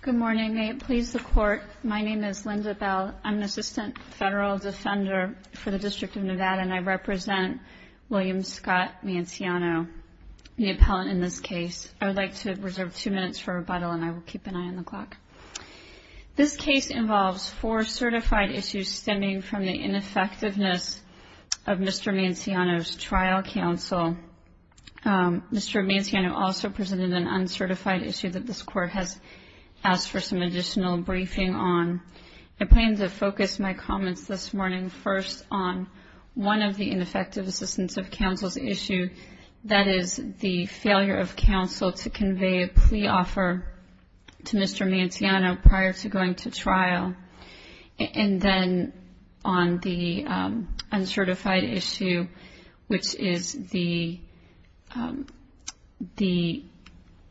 Good morning. May it please the Court, my name is Linda Bell. I'm an Assistant Federal Defender for the District of Nevada and I represent William Scott Manciano, the appellant in this case. I would like to reserve two minutes for rebuttal and I will keep an eye on the clock. This case involves four certified issues stemming from the ineffectiveness of Mr. Manciano's uncertified issue that this Court has asked for some additional briefing on. I plan to focus my comments this morning first on one of the ineffective assistance of counsel's issue, that is the failure of counsel to convey a plea offer to Mr. Manciano prior to going to trial, and then on the uncertified issue, which is the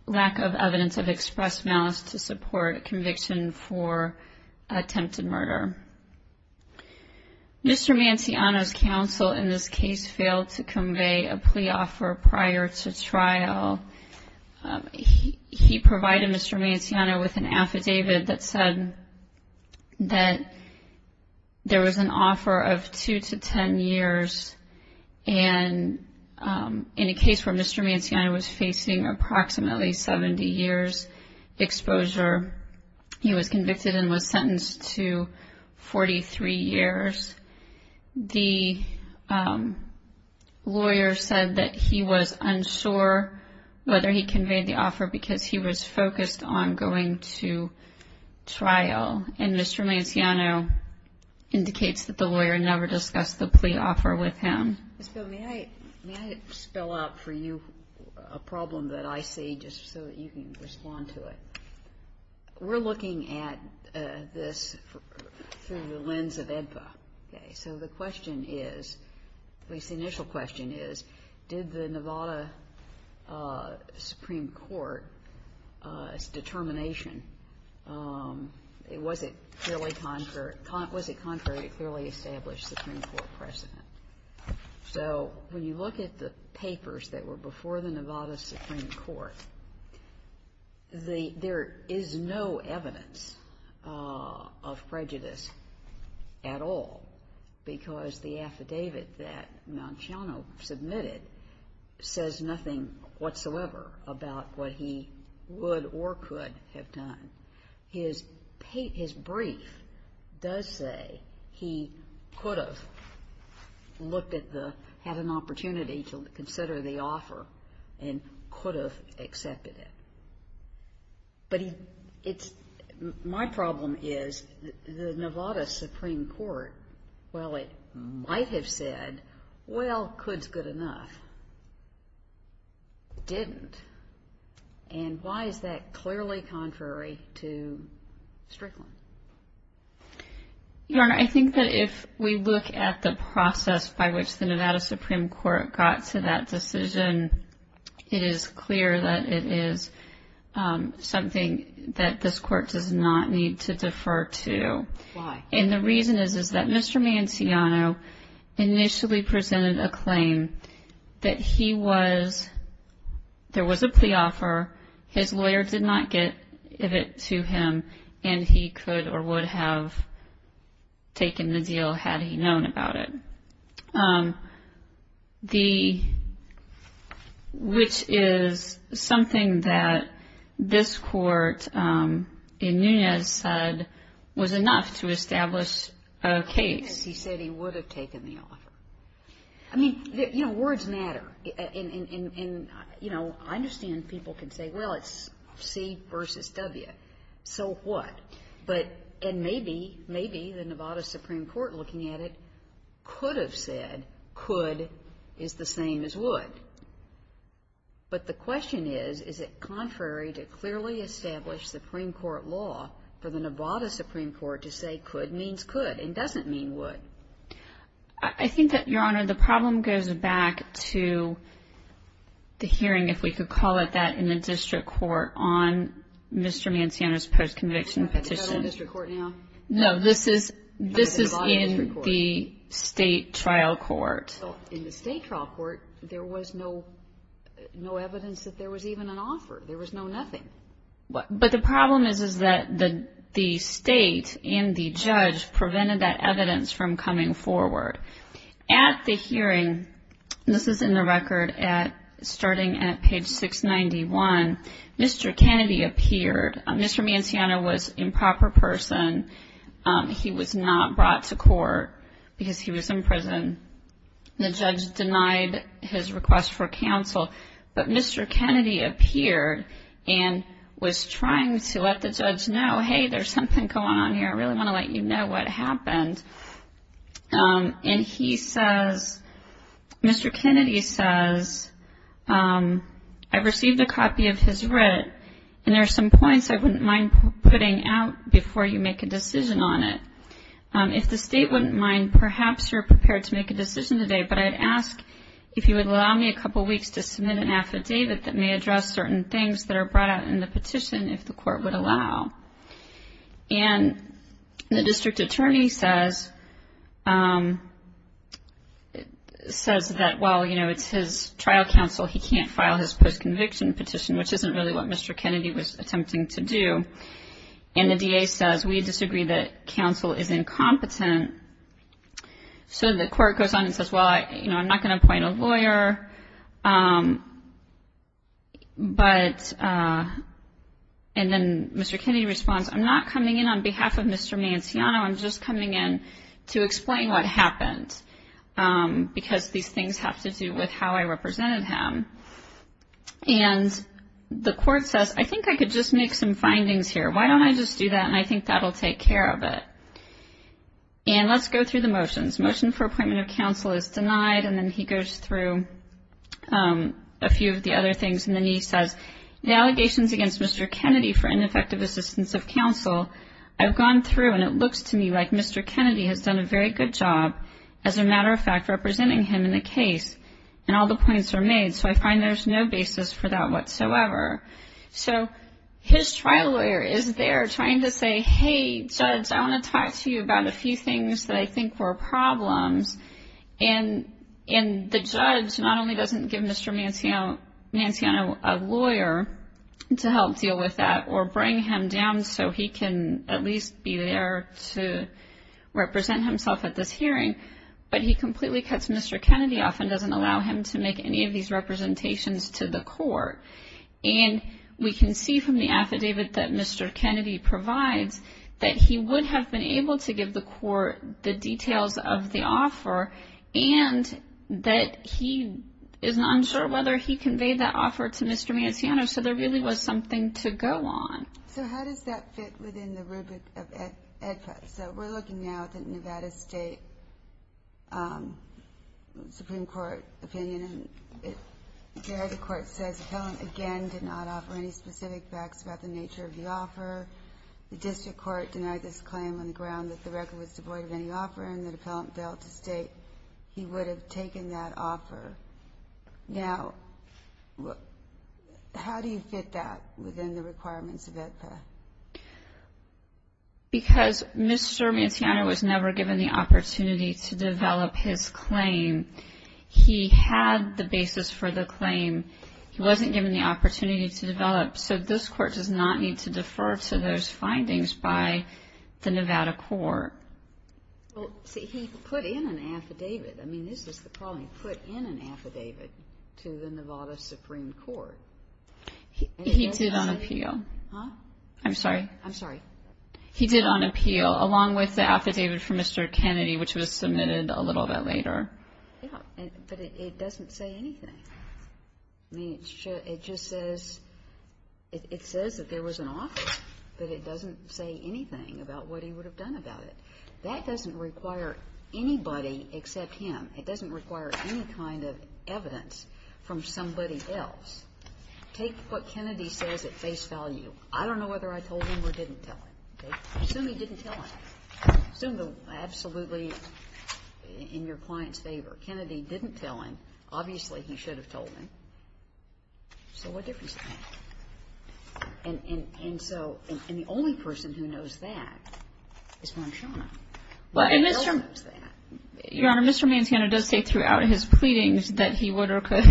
lack of evidence of expressed malice to support conviction for attempted murder. Mr. Manciano's counsel in this case failed to convey a plea offer prior to trial. He provided Mr. Manciano with an affidavit that said that there was an offer of two to ten years and in a case where Mr. Manciano was facing approximately 70 years exposure, he was convicted and was sentenced to 43 years. The lawyer said that he was unsure whether he conveyed the offer because he was focused on going to trial, and Mr. Manciano indicates that the lawyer never discussed the plea offer with him. Ms. Bill, may I spell out for you a problem that I see, just so that you can respond to it? We're looking at this through the lens of AEDPA. So the question is, at least the determination, was it contrary to clearly established Supreme Court precedent? So when you look at the papers that were before the Nevada Supreme Court, there is no evidence of prejudice at all because the affidavit that Manciano submitted says nothing whatsoever about what he would or could have done. His brief does say he could have looked at the, had an opportunity to consider the offer and could have accepted it. But my problem is that the Nevada Supreme Court, while it might have said, well, could's good enough, didn't. And why is that clearly contrary to Strickland? Your Honor, I think that if we look at the process by which the Nevada Supreme Court got to that decision, it is clear that it is something that this Court does not need to defer to. And the reason is that Mr. Manciano initially presented a claim that he was, there was a plea offer, his lawyer did not give it to him, and he could or would have taken the deal had he known about it. The, which is something that this Court in Nunez said was enough to establish a case. He said he would have taken the offer. I mean, you know, words matter. And, you know, I understand people can say, well, it's C versus W. So what? But, and maybe, maybe the Nevada Supreme Court looking at it could have said could is the same as would. But the question is, is it contrary to clearly established Supreme Court law for the Nevada Supreme Court to say could means could and doesn't mean would? I think that, Your Honor, the problem goes back to the hearing, if we could call it that, in the district court on Mr. Manciano's post-conviction petition. Is that in the district court now? No, this is, this is in the state trial court. Well, in the state trial court, there was no, no evidence that there was even an offer. There was no nothing. But the problem is, is that the state and the judge prevented that evidence from coming forward. At the hearing, this is in the record at, starting at page 691, Mr. Kennedy appeared. Mr. Manciano was improper person. He was not brought to court because he was in prison. The judge denied his request for counsel. But Mr. Kennedy appeared and was trying to let the judge know, hey, there's something going on here. I really want to let you know what happened. And he says, Mr. Kennedy says, I received a copy of his writ. And there are some points I wouldn't mind putting out before you make a decision on it. If the state wouldn't mind, perhaps you're prepared to make a decision today. But I'd ask if you would allow me a couple weeks to submit an affidavit that may address certain things that are brought out in the petition, if the court would allow. And the district attorney says, says that, well, you know, it's his trial counsel. He can't file his post-conviction petition, which isn't really what Mr. Kennedy was attempting to do. And the DA says, we disagree that counsel is incompetent. So the court goes on and says, well, you know, I'm not going to appoint a lawyer. But and then Mr. Kennedy responds, I'm not coming in on behalf of Mr. Manciano. I'm just coming in to explain what happened because these things have to do with how I represented him. And the court says, I think I could just make some findings here. Why don't I just do that? And I think that'll take care of it. And let's go through the motions. Motion for appointment of counsel is denied. And then he goes through a few of the other things. And then he says, the allegations against Mr. Kennedy for ineffective assistance of counsel, I've gone through and it looks to me like Mr. Kennedy has done a very good job, as a matter of fact, representing him in the case. And all the points are made. So I find there's no basis for that whatsoever. So his trial lawyer is there trying to say, hey, judge, I want to talk to you about a few things that I think were problems. And the judge not only doesn't give Mr. Manciano a lawyer to help deal with that or bring him down so he can at least be there to represent himself at this hearing, but he completely cuts Mr. Kennedy off and doesn't allow him to make any of these representations to the court. And we can see from the affidavit that Mr. Kennedy provides that he would have been able to give the court the details of the offer and that he is not sure whether he conveyed that offer to Mr. Manciano. So there really was something to go on. So how does that fit within the rubric of AEDPA? So we're looking now at the Nevada State Supreme Court opinion. And there the court says the appellant, again, did not offer any specific facts about the nature of the offer. The district court denied this claim on the ground that the record was devoid of any offer, and the appellant failed to state he would have taken that offer. Now, how do you fit that within the requirements of AEDPA? Because Mr. Manciano was never given the opportunity to develop his claim. He had the basis for the claim. He wasn't given the opportunity to develop. So this court does not need to defer to those findings by the Nevada court. Well, see, he put in an affidavit. I mean, this is the problem. He put in an affidavit to the Nevada Supreme Court. He did on appeal. I'm sorry? I'm sorry. He did on appeal, along with the affidavit from Mr. Kennedy, which was submitted a little bit later. Yeah, but it doesn't say anything. I mean, it just says that there was an offer, but it doesn't say anything about what he would have done about it. That doesn't require anybody except him. It doesn't require any kind of evidence from somebody else. Take what Kennedy says at face value. I don't know whether I told him or didn't tell him. Assume he didn't tell him. Assume absolutely in your client's favor. Kennedy didn't tell him. Obviously, he should have told him. So what difference does it make? And so the only person who knows that is Manciano. Nobody else knows that. Your Honor, Mr. Manciano does say throughout his pleadings that he would or could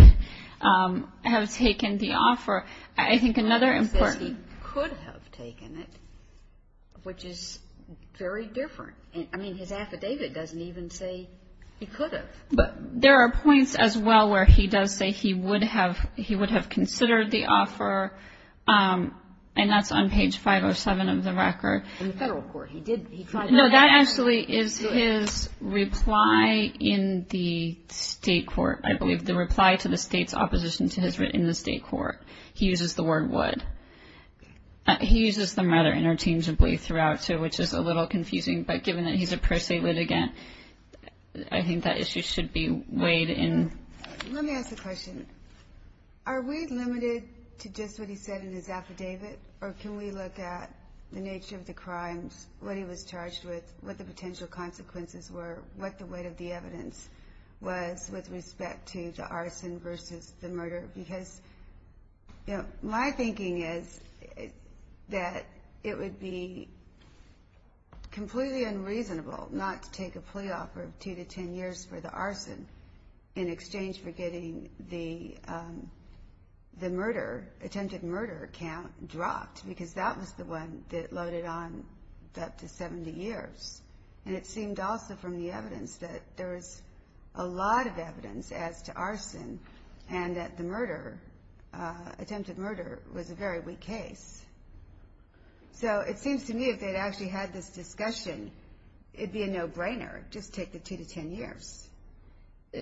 have taken the offer. I think another important... He says he could have taken it, which is very different. I mean, his affidavit doesn't even say he could have. But there are points as well where he does say he would have considered the offer, and that's on page 507 of the record. In the federal court, he did. No, that actually is his reply in the state court, I believe. The reply to the state's opposition to his writ in the state court. He uses the word would. He uses them rather interchangeably throughout, which is a little confusing. But given that he's a pro se litigant, I think that issue should be weighed in. Let me ask a question. Are we limited to just what he said in his affidavit? Or can we look at the nature of the crimes, what he was charged with, what the potential consequences were, what the weight of the evidence was with respect to the arson versus the murder? Because, you know, my thinking is that it would be completely unreasonable not to take a plea offer of 2 to 10 years for the arson in exchange for getting the murder, attempted murder account dropped because that was the one that loaded on up to 70 years. And it seemed also from the evidence that there was a lot of evidence as to arson and that the murder, attempted murder, was a very weak case. So it seems to me if they'd actually had this discussion, it'd be a no-brainer, just take the 2 to 10 years.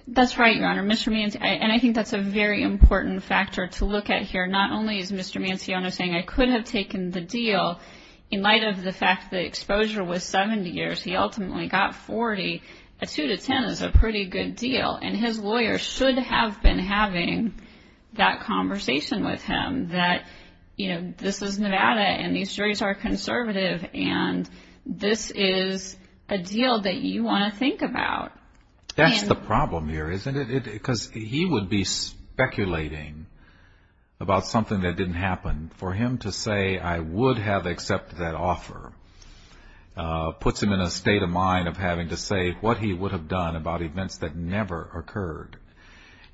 That's right, Your Honor. And I think that's a very important factor to look at here. Not only is Mr. Manciano saying, I could have taken the deal in light of the fact that exposure was 70 years. He ultimately got 40. A 2 to 10 is a pretty good deal. And his lawyer should have been having that conversation with him that, you know, this is Nevada and these juries are conservative and this is a deal that you want to think about. That's the problem here, isn't it? Because he would be speculating about something that didn't happen. For him to say, I would have accepted that offer puts him in a state of mind of having to say what he would have done about events that never occurred.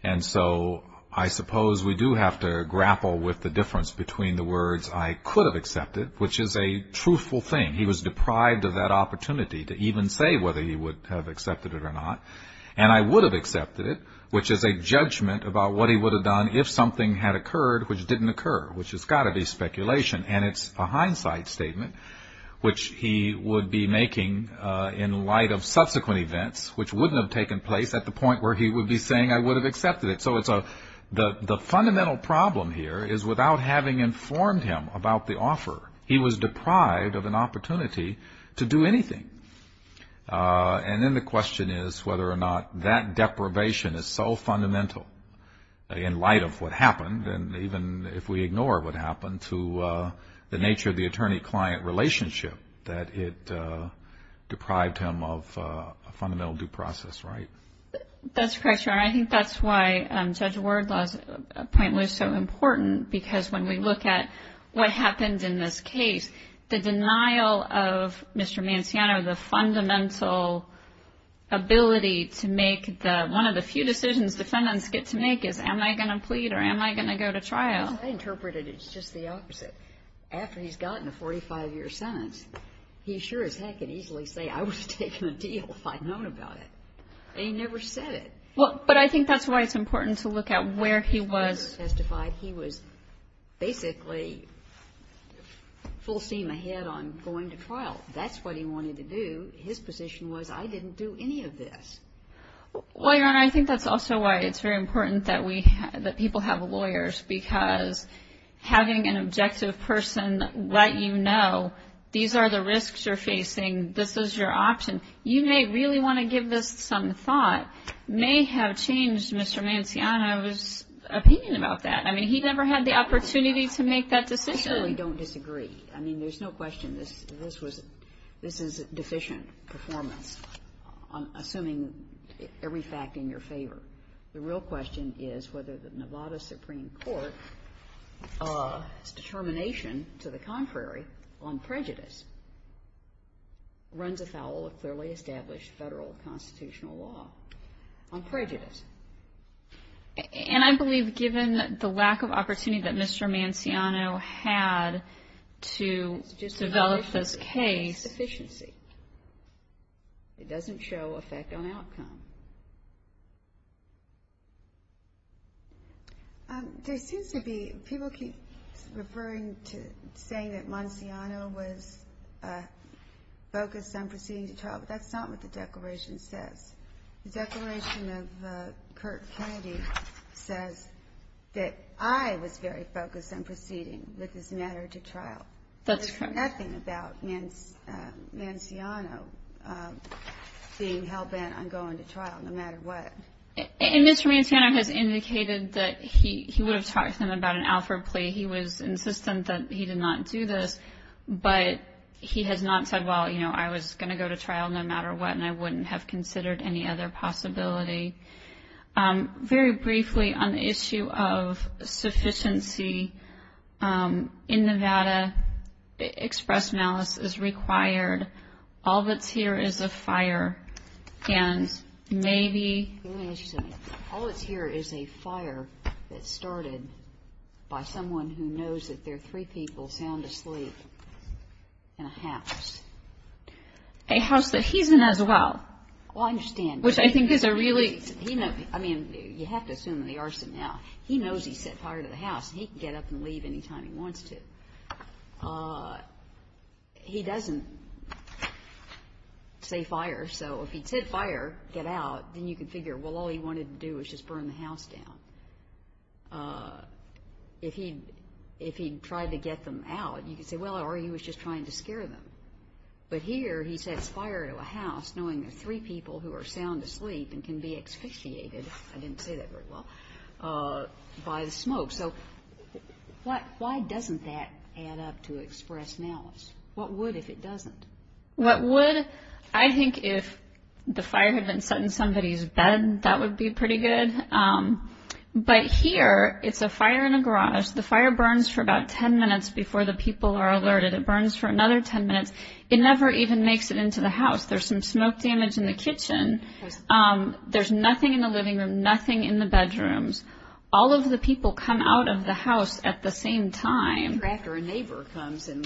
And so I suppose we do have to grapple with the difference between the words, I could have accepted, which is a truthful thing. He was deprived of that opportunity to even say whether he would have accepted it or not. And I would have accepted it, which is a judgment about what he would have done if something had occurred which didn't occur, which has got to be speculation. And it's a hindsight statement which he would be making in light of subsequent events which wouldn't have taken place at the point where he would be saying I would have accepted it. So the fundamental problem here is without having informed him about the offer, he was deprived of an opportunity to do anything. And then the question is whether or not that deprivation is so fundamental in light of what happened and even if we ignore what happened to the nature of the attorney-client relationship that it deprived him of a fundamental due process, right? That's correct, Your Honor. I think that's why Judge Wardlaw's point was so important because when we look at what happened in this case, the denial of Mr. Manciano, the fundamental ability to make one of the few decisions defendants get to make is am I going to plead or am I going to go to trial? I interpret it as just the opposite. After he's gotten a 45-year sentence, he sure as heck can easily say I would have taken a deal if I'd known about it. And he never said it. But I think that's why it's important to look at where he was. He was basically full steam ahead on going to trial. That's what he wanted to do. His position was I didn't do any of this. Well, Your Honor, I think that's also why it's very important that people have lawyers because having an objective person let you know these are the risks you're facing, this is your option, you may really want to give this some thought may have changed Mr. Manciano's opinion about that. I mean, he never had the opportunity to make that decision. I certainly don't disagree. I mean, there's no question this is deficient performance assuming every fact in your favor. The real question is whether the Nevada Supreme Court to the contrary on prejudice runs afoul of clearly established federal constitutional law on prejudice. And I believe given the lack of opportunity that Mr. Manciano had to develop this case it doesn't show effect on outcome. There seems to be people keep referring to saying that Manciano was focused on proceeding to trial but that's not what the declaration says. The declaration of Kirk Kennedy says that I was very focused on proceeding with this matter to trial. That's correct. There's nothing about Manciano being hell bent on going to trial no matter what. And Mr. Manciano has indicated that he would have talked to him about an Alford plea he was insistent that he did not do this but he has not said well, you know, I was going to go to trial no matter what and I wouldn't have considered any other possibility. Very briefly on the issue of sufficiency in Nevada express malice is required all that's here is a fire and maybe All that's here is a fire that started by someone who knows that there are three people sound asleep in a house. A house that he's in as well. Well I understand. Which I think is a really I mean you have to assume the arson now he knows he set fire to the house and he can get up and leave anytime he wants to. He doesn't say fire so if he said fire, get out, then you can figure well all he wanted to do was just burn the house down. If he tried to get them out, you can say well he was just trying to scare them. But here he sets fire to a house knowing there are three people who are sound asleep and can be asphyxiated I didn't say that very well by the smoke so why doesn't that add up to express malice? What would if it doesn't? I think if the fire had been set in somebody's bed that would be pretty good but here it's a fire in a garage. The fire burns for about 10 minutes before the people are alerted it burns for another 10 minutes it never even makes it into the house there's some smoke damage in the kitchen there's nothing in the living room nothing in the bedrooms all of the people come out of the house at the same time after a neighbor comes and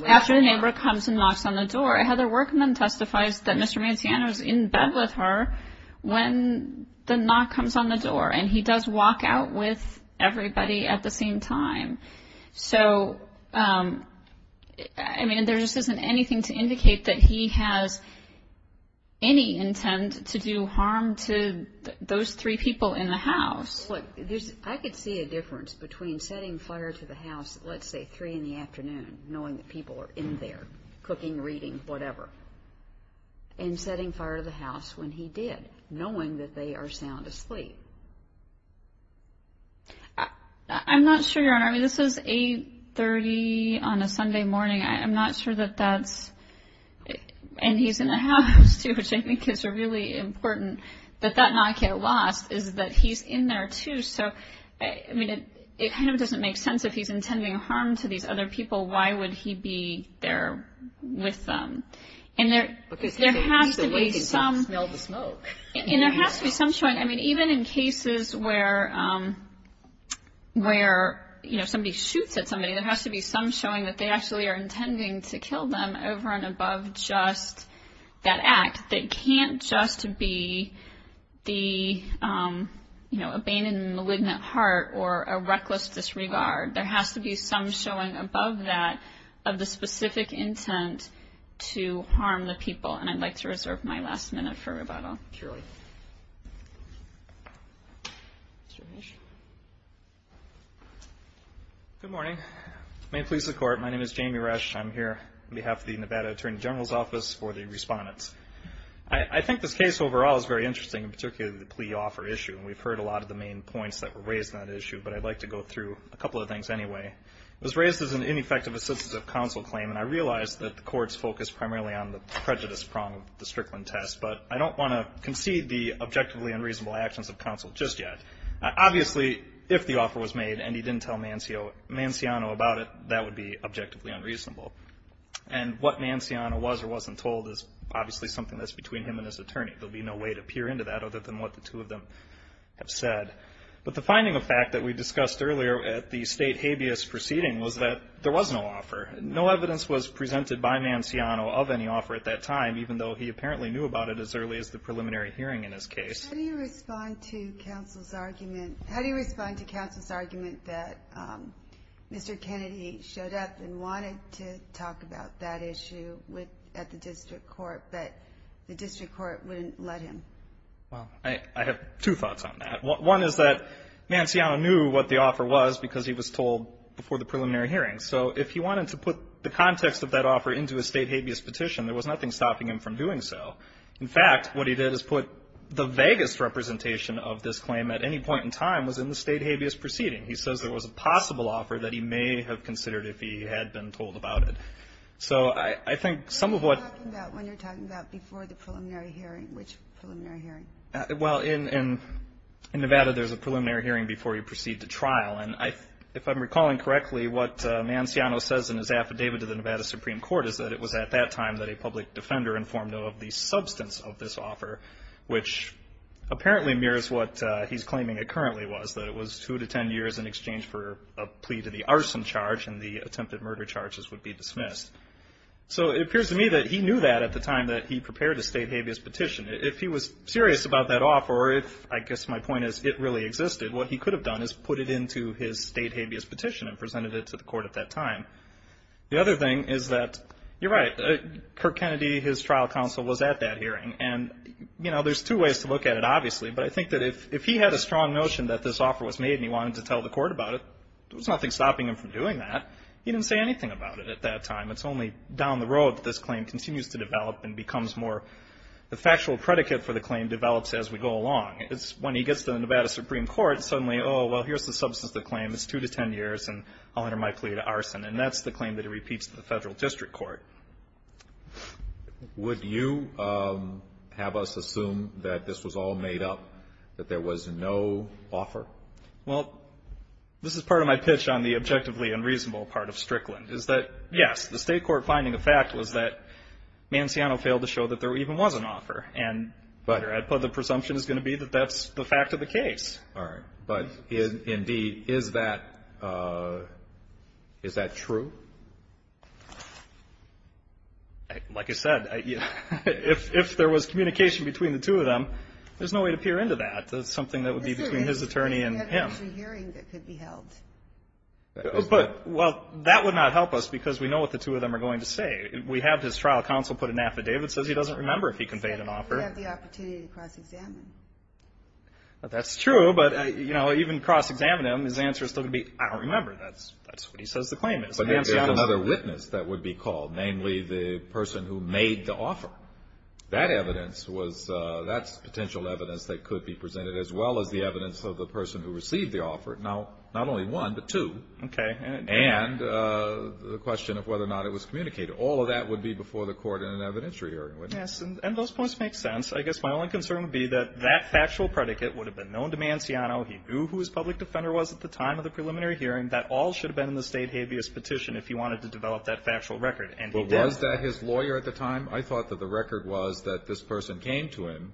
knocks on the door Heather Workman testifies that Mr. Manciano is in bed with her when the knock comes on the door and he does walk out with everybody at the same time so there just isn't anything to indicate that he has any intent to do harm to those three people in the house I could see a difference between setting fire to the house at let's say 3 in the afternoon knowing that people are in there cooking, reading, whatever and setting fire to the house when he did, knowing that they are sound asleep I'm not sure Your Honor this is 8.30 on a Sunday morning I'm not sure that that's and he's in the house which I think is really important that that knock get lost is that he's in there too it kind of doesn't make sense if he's intending harm to these other people why would he be there with them and there has to be some and there has to be some showing even in cases where where somebody shoots at somebody there has to be some showing that they actually are intending to kill them over and above just that act that can't just be the abandoned and malignant heart or a reckless disregard there has to be some showing above that of the specific intent to harm the people and I'd like to reserve my last minute for rebuttal Your Honor Good morning May it please the Court My name is Jamie Resch I'm here on behalf of the Nevada Attorney General's Office for the Respondents I think this case overall is very interesting particularly the plea offer issue we've heard a lot of the main points that were raised on that issue but I'd like to go through a couple of things anyway it was raised as an ineffective assistive counsel claim and I realize that the courts focus primarily on the prejudice prong of the Strickland test but I don't want to concede the objectively unreasonable actions of counsel just yet obviously if the offer was made and he didn't tell Manciano about it, that would be objectively unreasonable and what Manciano was or wasn't told is obviously something that's between him and his attorney there would be no way to peer into that other than what the two of them have said but the finding of fact that we discussed earlier at the state habeas proceeding was that there was no offer no evidence was presented by Manciano of any offer at that time even though he apparently knew about it as early as the preliminary hearing in his case How do you respond to counsel's argument that Mr. Kennedy showed up and wanted to talk about that issue at the district court but the district court wouldn't let him I have two thoughts on that one is that Manciano knew what the offer was because he was told before the preliminary hearing so if he wanted to put the context of that offer into a state habeas petition there was nothing stopping him from doing so in fact what he did is put the vaguest representation of this claim at any point in time was in the state habeas proceeding he says there was a possible offer that he may have considered if he had been told about it What are you talking about when you're talking about before the preliminary hearing which preliminary hearing In Nevada there's a preliminary hearing before you proceed to trial and if I'm recalling correctly what Manciano says in his affidavit to the Nevada Supreme Court is that it was at that time that a public defender informed of the substance of this offer which apparently mirrors what he's claiming it currently was that it was 2-10 years in exchange for a plea to the arson charge and the attempted murder charges would be dismissed so it appears to me that he knew that at the time that he prepared a state habeas petition if he was serious about that offer or if I guess my point is it really existed what he could have done is put it into his state habeas petition and presented it to the court at that time the other thing is that you're right Kirk Kennedy his trial counsel was at that hearing and you know there's two ways to look at it obviously but I think that if he had a strong notion that this offer was made and he wanted to tell the court about it there was nothing stopping him from doing that he didn't say anything about it at that time it's only down the road that this claim continues to develop and becomes more the factual predicate for the claim develops as we go along when he gets to the Nevada Supreme Court suddenly oh well here's the substance of the claim it's 2-10 years and I'll enter my plea to arson and that's the claim that he repeats to the federal district court Would you have us assume that this was all made up that there was no offer well this is part of my pitch on the objectively unreasonable part of Strickland is that yes the state court finding a fact was that this claim was an offer but the presumption is going to be that that's the fact of the case but indeed is that true like I said if there was communication between the two of them there's no way to peer into that it's something that would be between his attorney and him but well that would not help us because we know what the two of them are going to say we have his trial counsel put an affidavit that says he doesn't remember if he conveyed an offer we have the opportunity to cross examine that's true but even cross examining him his answer is still going to be I don't remember that's what he says the claim is but there's another witness that would be called namely the person who made the offer that evidence that's potential evidence that could be presented as well as the evidence of the person who received the offer now not only one but two and the question of whether or not it was communicated all of that would be before the court in an evidentiary hearing yes and those points make sense I guess my only concern would be that that factual predicate would have been known to Manciano he knew who his public defender was at the time of the preliminary hearing that all should have been in the state habeas petition if he wanted to develop that factual record was that his lawyer at the time I thought that the record was that this person came to him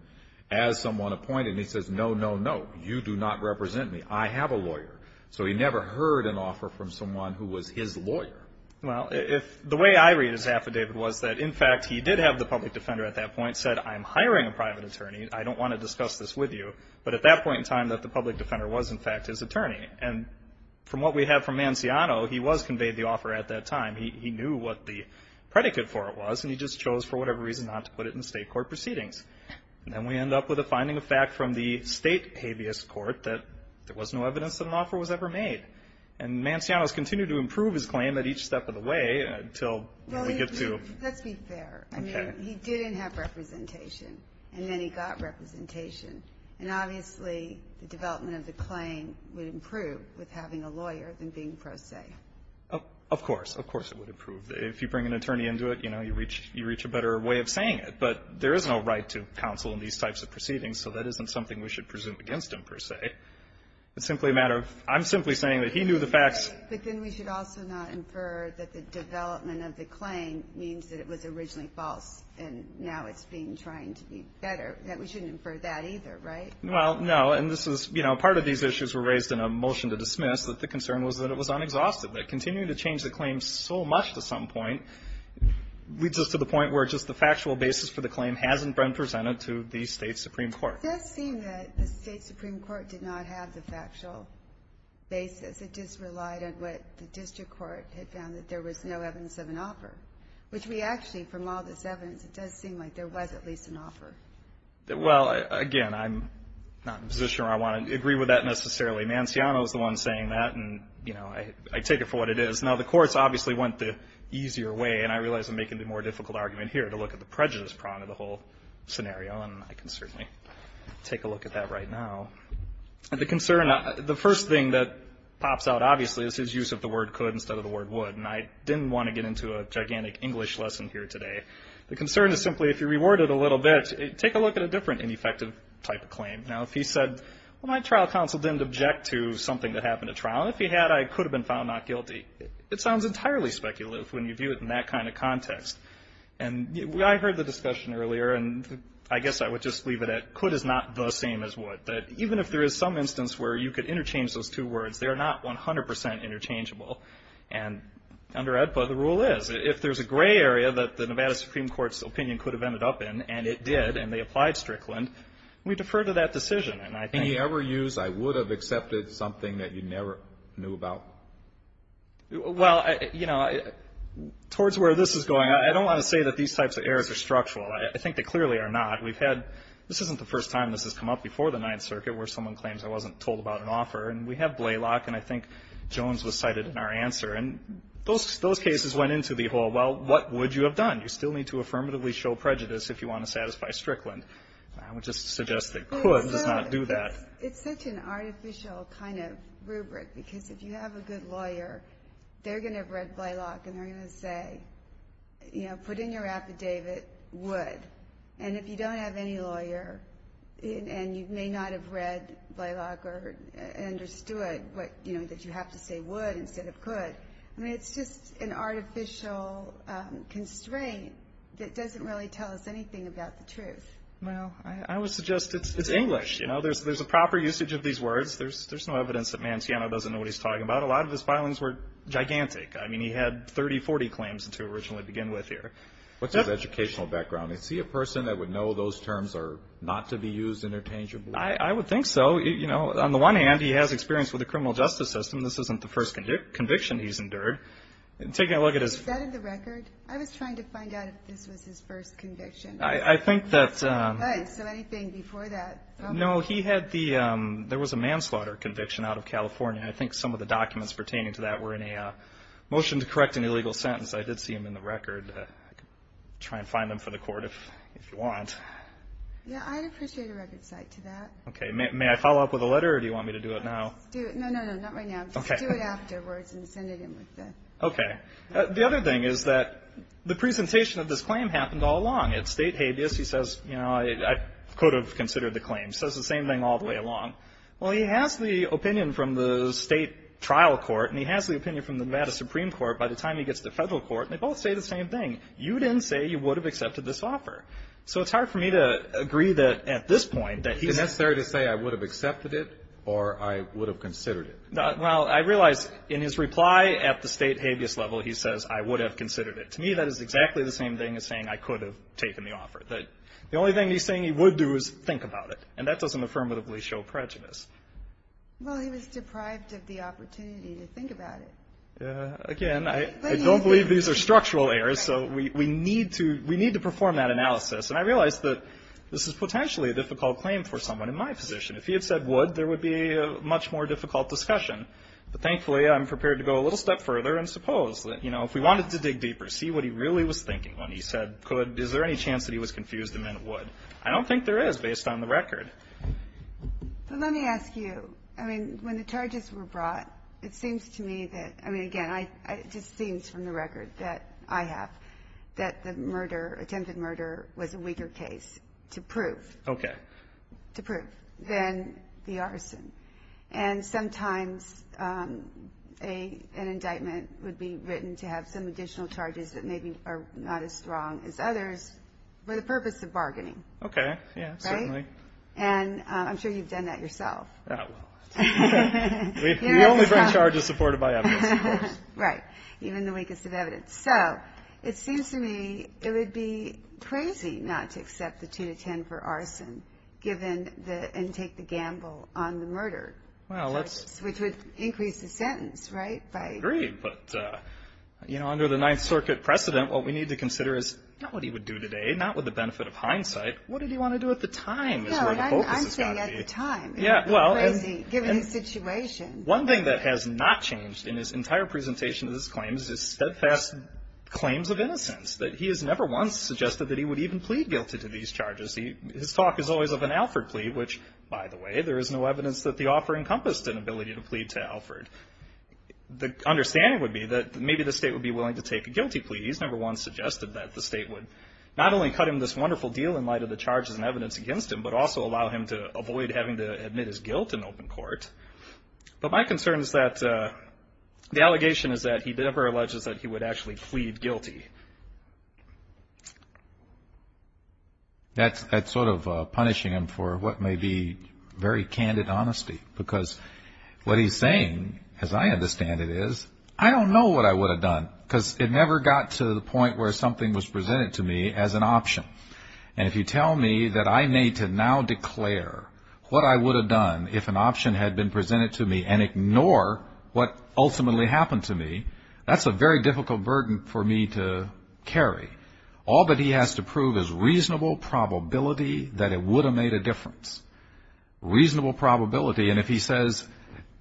as someone appointed and he says no no no you do not represent me I have a lawyer so he never heard an offer from someone who was his lawyer well the way I read his affidavit was that in fact he did have the public defender at that point said I'm hiring a private attorney I don't want to discuss this with you but at that point in time that the public defender was in fact his attorney and from what we have from Manciano he was conveyed the offer at that time he knew what the predicate for it was and he just chose for whatever reason not to put it in state court proceedings and then we end up with a finding of fact from the state habeas court that there was no evidence that an offer was ever made and Manciano has continued to improve his claim at each step of the way until we get to let's be fair he didn't have representation and then he got representation and obviously the development of the claim would improve with having a lawyer than being pro se of course it would improve if you bring an attorney into it you reach a better way of saying it but there is no right to counsel in these types of proceedings so that isn't something we should presume against him per se it's simply a matter of I'm simply saying that he knew the facts but then we should also not infer that the development of the claim means that it was originally false and now it's been trying to be better we shouldn't infer that either, right? well, no, and part of these issues were raised in a motion to dismiss that the concern was that it was unexhausted but continuing to change the claim so much to some point leads us to the point where just the factual basis for the claim hasn't been presented to the state supreme court it does seem that the state supreme court did not have the factual basis it just relied on what the district court had found that there was no evidence of an offer which we actually, from all this evidence it does seem like there was at least an offer well, again I'm not in a position where I want to agree with that necessarily Manciano's the one saying that I take it for what it is now the courts obviously went the easier way and I realize I'm making the more difficult argument here to look at the prejudice prong of the whole scenario and I can certainly take a look at that right now the concern, the first thing that pops out obviously is his use of the word could instead of the word would and I didn't want to get into a gigantic English lesson here today the concern is simply if you reword it a little bit take a look at a different ineffective type of claim now if he said, my trial counsel didn't object to something that happened at trial and if he had, I could have been found not guilty it sounds entirely speculative when you view it in that kind of context and I heard the discussion earlier and I guess I would just leave it at could is not the same as would even if there is some instance where you could interchange those two words, they are not 100% interchangeable and under EDPA the rule is if there's a gray area that the Nevada Supreme Court's opinion could have ended up in, and it did and they applied Strickland we defer to that decision Can you ever use, I would have accepted something that you never knew about? Well, you know towards where this is going I don't want to say that these types of errors are structural I think they clearly are not this isn't the first time this has come up before the 9th circuit where someone claims I wasn't told about an offer and we have Blalock and I think Jones was cited in our answer and those cases went into the whole well, what would you have done? You still need to affirmatively show prejudice if you want to satisfy Strickland I would just suggest that could does not do that It's such an artificial kind of rubric because if you have a good lawyer they're going to have read Blalock and they're going to say put in your affidavit, would and if you don't have any lawyer and you may not have read Blalock or understood that you have to say would instead of could I mean, it's just an artificial constraint that doesn't really tell us anything about the truth Well, I would suggest it's English, you know there's a proper usage of these words there's no evidence that Manciano doesn't know what he's talking about a lot of his filings were gigantic I mean, he had 30, 40 claims to originally begin with here What's his educational background? Is he a person that would know those terms are not to be used interchangeably? I would think so on the one hand, he has experience with the criminal justice system this isn't the first conviction he's endured taking a look at his Is that in the record? I was trying to find out if this was his first conviction I think that so anything before that No, he had the there was a manslaughter conviction out of California I think some of the documents pertaining to that were in a motion to correct an illegal sentence I did see them in the record try and find them for the court if you want Yeah, I'd appreciate a record cite to that May I follow up with a letter or do you want me to do it now? No, not right now. Do it afterwards and send it in with the The other thing is that the presentation of this claim happened all along at state habeas, he says I could have considered the claim he says the same thing all the way along well, he has the opinion from the state trial court and he has the opinion from the Nevada Supreme Court by the time he gets to federal court they both say the same thing you didn't say you would have accepted this offer so it's hard for me to agree that at this point Is it necessary to say I would have accepted it or I would have considered it? Well, I realize in his reply at the state habeas level he says I would have considered it. To me that is exactly the same thing as saying I could have taken the offer the only thing he's saying he would do is think about it and that doesn't affirmatively show prejudice Well, he was deprived of the opportunity to think about it Again, I don't believe these are structural errors so we need to perform that analysis and I realize that this is potentially a difficult claim for someone in my position. If he had said would, there would be a much more difficult discussion but thankfully I'm prepared to go a little step further and suppose that, you know, if we wanted to dig deeper, see what he really was thinking when he said could, is there any chance that he was confused and meant would? I don't think there is based on the record But let me ask you, I mean when the charges were brought, it seems to me that, I mean again, it just seems from the record that I have that the murder, attempted murder was a weaker case to prove to prove than the arson and sometimes an indictment would be written to have some additional charges that maybe are not as strong as others for the purpose of bargaining Okay, yeah, certainly And I'm sure you've done that yourself Oh, well We only bring charges supported by evidence Right, even the weakest of evidence. So, it seems to me it would be crazy not to accept the 2-10 for arson given the, and take the gamble on the murder which would increase the sentence, right? I agree, but you know, under the 9th Circuit precedent what we need to consider is not what he would do today, not with the benefit of hindsight what did he want to do at the time? No, I'm saying at the time given the situation One thing that has not changed in his entire presentation of his claims is steadfast claims of innocence that he has never once suggested that he would even plead guilty to these charges His talk is always of an Alford plea which, by the way, there is no evidence that the offer encompassed an ability to plead to Alford The understanding would be that maybe the state would be willing to take a guilty plea He's never once suggested that the state would not only cut him this wonderful deal in light of the charges and evidence against him but also allow him to avoid having to admit his guilt in open court But my concern is that the allegation is that he never alleges that he would actually plead guilty That's sort of punishing him for what may be very candid honesty, because what he's saying, as I understand it is I don't know what I would have done because it never got to the point where something was presented to me as an option and if you tell me that I need to now declare what I would have done if an option had been what ultimately happened to me that's a very difficult burden for me to carry All that he has to prove is reasonable probability that it would have made a difference Reasonable probability and if he says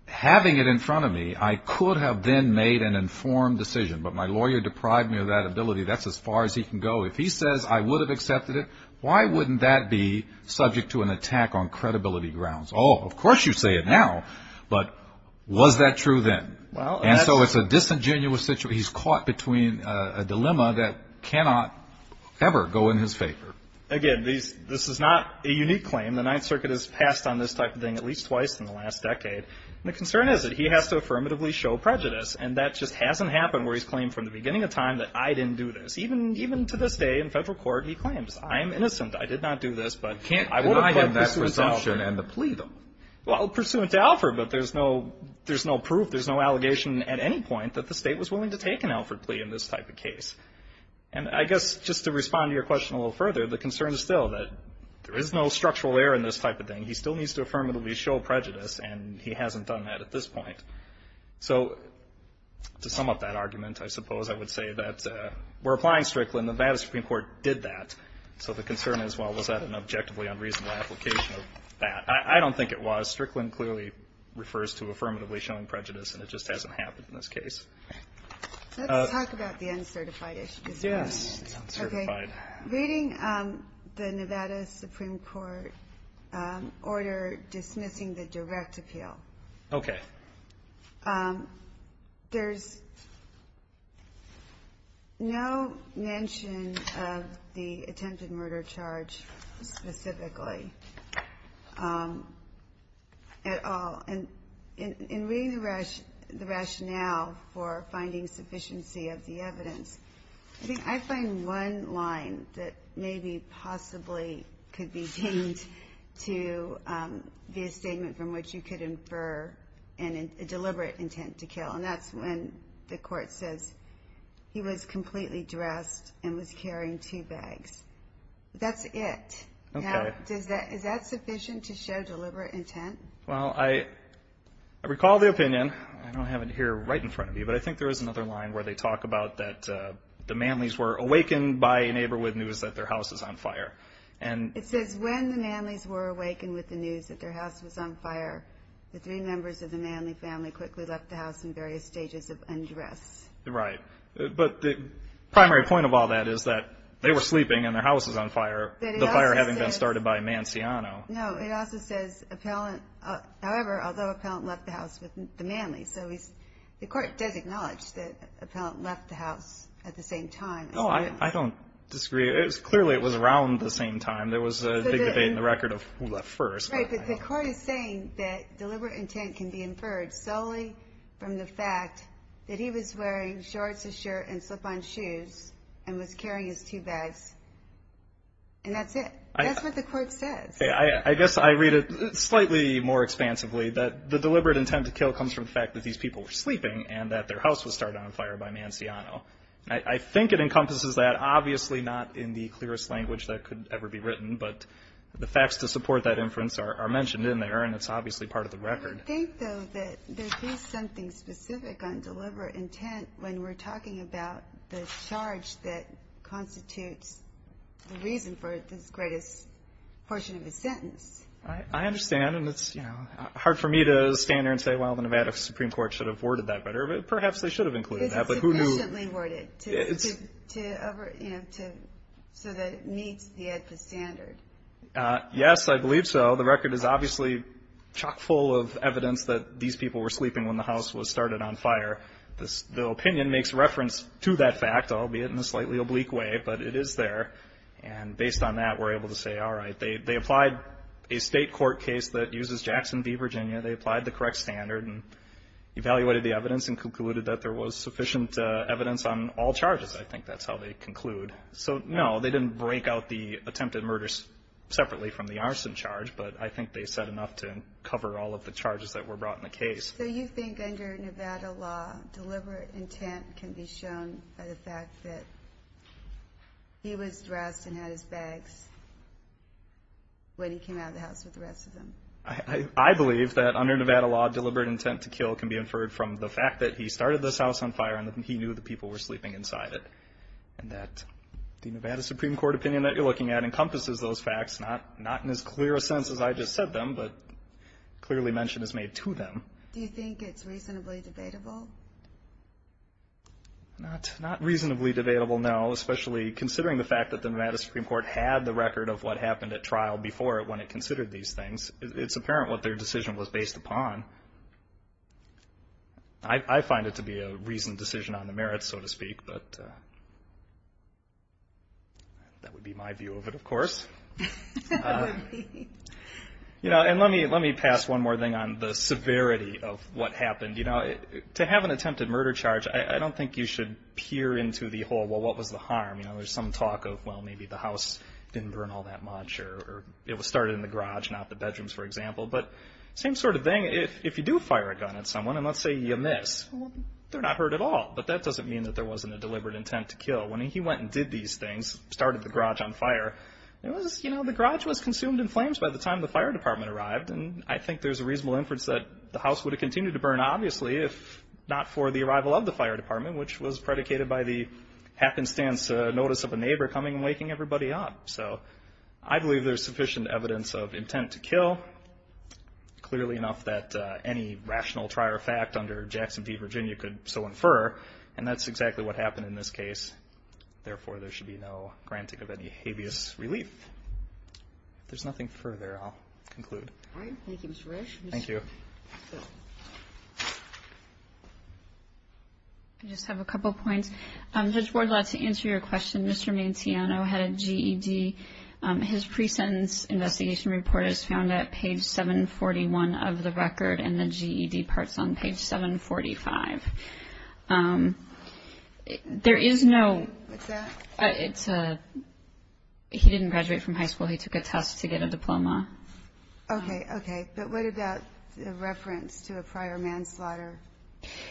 having it in front of me, I could have then made an informed decision but my lawyer deprived me of that ability that's as far as he can go If he says I would have accepted it, why wouldn't that be subject to an attack on credibility grounds Oh, of course you say it now But, was that true then? And so it's a disingenuous situation He's caught between a dilemma that cannot ever go in his favor Again, this is not a unique claim The Ninth Circuit has passed on this type of thing at least twice in the last decade The concern is that he has to affirmatively show prejudice and that just hasn't happened where he's claimed from the beginning of time that I didn't do this Even to this day in federal court he claims I'm innocent, I did not do this You can't deny him that presumption and the plea though Well, pursuant to Alford, but there's no there's no proof, there's no allegation at any point that the state was willing to take an Alford plea in this type of case And I guess, just to respond to your question a little further the concern is still that there is no structural error in this type of thing He still needs to affirmatively show prejudice and he hasn't done that at this point So, to sum up that argument I suppose I would say that we're applying Strickland, Nevada Supreme Court did that, so the concern is well, was that an objectively unreasonable application of that? I don't think it was Strickland clearly refers to affirmatively showing prejudice and it just hasn't happened in this case Let's talk about the uncertified issue Yes, the uncertified Reading the Nevada Supreme Court order dismissing the direct appeal Okay There's no mention of the attempted murder charge specifically at all In reading the rationale for finding sufficiency of the evidence I think I find one line that maybe possibly could be deemed to be a statement from which you could infer a deliberate intent to kill, and that's when the court says he was completely dressed and was carrying two Is that sufficient to show deliberate intent? Well, I recall the opinion I don't have it here right in front of me but I think there is another line where they talk about that the Manleys were awakened by neighborhood news that their house is on fire It says when the Manleys were awakened with the news that their house was on fire the three members of the Manley family quickly left the house in various stages of undress Right, but the primary point of all that is that they were sleeping and their house was on fire the fire having been started by Manciano No, it also says however, although Appellant left the house with the Manleys the court does acknowledge that Appellant left the house at the same time I don't disagree clearly it was around the same time there was a big debate in the record of who left first Right, but the court is saying that deliberate intent can be inferred solely from the fact that he was wearing shorts, a shirt, and slip-on shoes and was carrying his two bags and that's it that's what the court says I guess I read it slightly more expansively that the deliberate intent to kill comes from the fact that these people were sleeping and that their house was started on fire by Manciano I think it encompasses that obviously not in the clearest language that could ever be written, but the facts to support that inference are mentioned in there and it's obviously part of the record I think though that there is something specific on deliberate intent when we're talking about the charge that constitutes the reason for this greatest portion of his sentence I understand, and it's hard for me to stand there and say well the Nevada Supreme Court should have worded that better perhaps they should have included that It's sufficiently worded so that it meets the AEDPA standard Yes, I believe so, the record is obviously chock-full of evidence that these people were sleeping when the house was started on fire The opinion makes reference to that fact albeit in a slightly oblique way, but it is there and based on that we're able to say alright, they applied a state court case that uses Jackson v. Virginia they applied the correct standard evaluated the evidence and concluded that there was sufficient evidence on all charges, I think that's how they conclude so no, they didn't break out the attempted murders separately from the arson charge, but I think they said enough to cover all of the charges that were brought in the case So you think under Nevada law deliberate intent can be shown by the fact that he was dressed and had his bags when he came out of the house with the rest of them I believe that under Nevada law deliberate intent to kill can be inferred from the fact that he started this house on fire and he knew the people were sleeping inside it and that the Nevada Supreme Court opinion that you're looking at encompasses those facts not in as clear a sense as I just said them but clearly mention is made to them Do you think it's reasonably debatable? Not reasonably debatable no, especially considering the fact that the Nevada Supreme Court had the record of what happened at trial before when it considered these things, it's apparent what their decision was based upon I find it to be a reasoned decision on the merits so to speak but that would be my view of it of course That would be Let me pass one more thing on the severity of what happened To have an attempted murder charge I don't think you should peer into the whole what was the harm there's some talk of maybe the house didn't burn all that much or it was started in the garage not the bedrooms for example but same sort of thing if you do fire a gun at someone and let's say you miss they're not hurt at all but that doesn't mean there wasn't a deliberate intent to kill when he went and did these things started the garage on fire the garage was consumed in flames by the time the fire department arrived and I think there's a reasonable inference that the house would have continued to burn obviously if not for the arrival of the fire department which was predicated by the happenstance notice of a neighbor coming and waking everybody up I believe there's sufficient evidence of intent to kill clearly enough that any rational trier of fact under Jackson v. Virginia could so infer and that's exactly what happened in this case therefore there should be no granting of any habeas relief if there's nothing further I'll conclude Thank you Mr. Resch Thank you I just have a couple points Judge Ward's allowed to answer your question Mr. Mantiano had a GED his pre-sentence investigation report is found at page 741 of the record and the GED parts on page 745 there is no it's a he didn't graduate from high school he took a test to get a diploma ok ok but what about reference to a prior manslaughter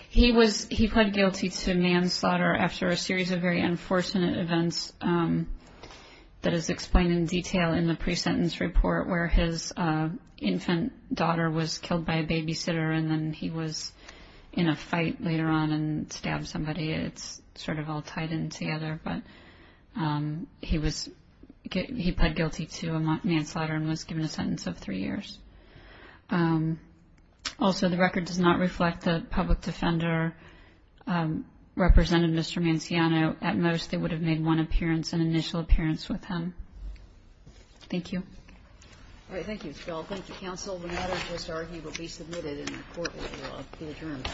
he was he pled guilty to manslaughter after a series of very unfortunate events that is explained in detail in the pre-sentence report where his infant daughter was killed by a babysitter and then he was in a fight later on and stabbed somebody it's sort of all tied in together but he was he pled guilty to a manslaughter and was given a sentence of three years also the record does not reflect the public defender represented Mr. Mantiano at most they would have made one appearance an initial appearance with him thank you thank you the matter just argued will be submitted and the court will be adjourned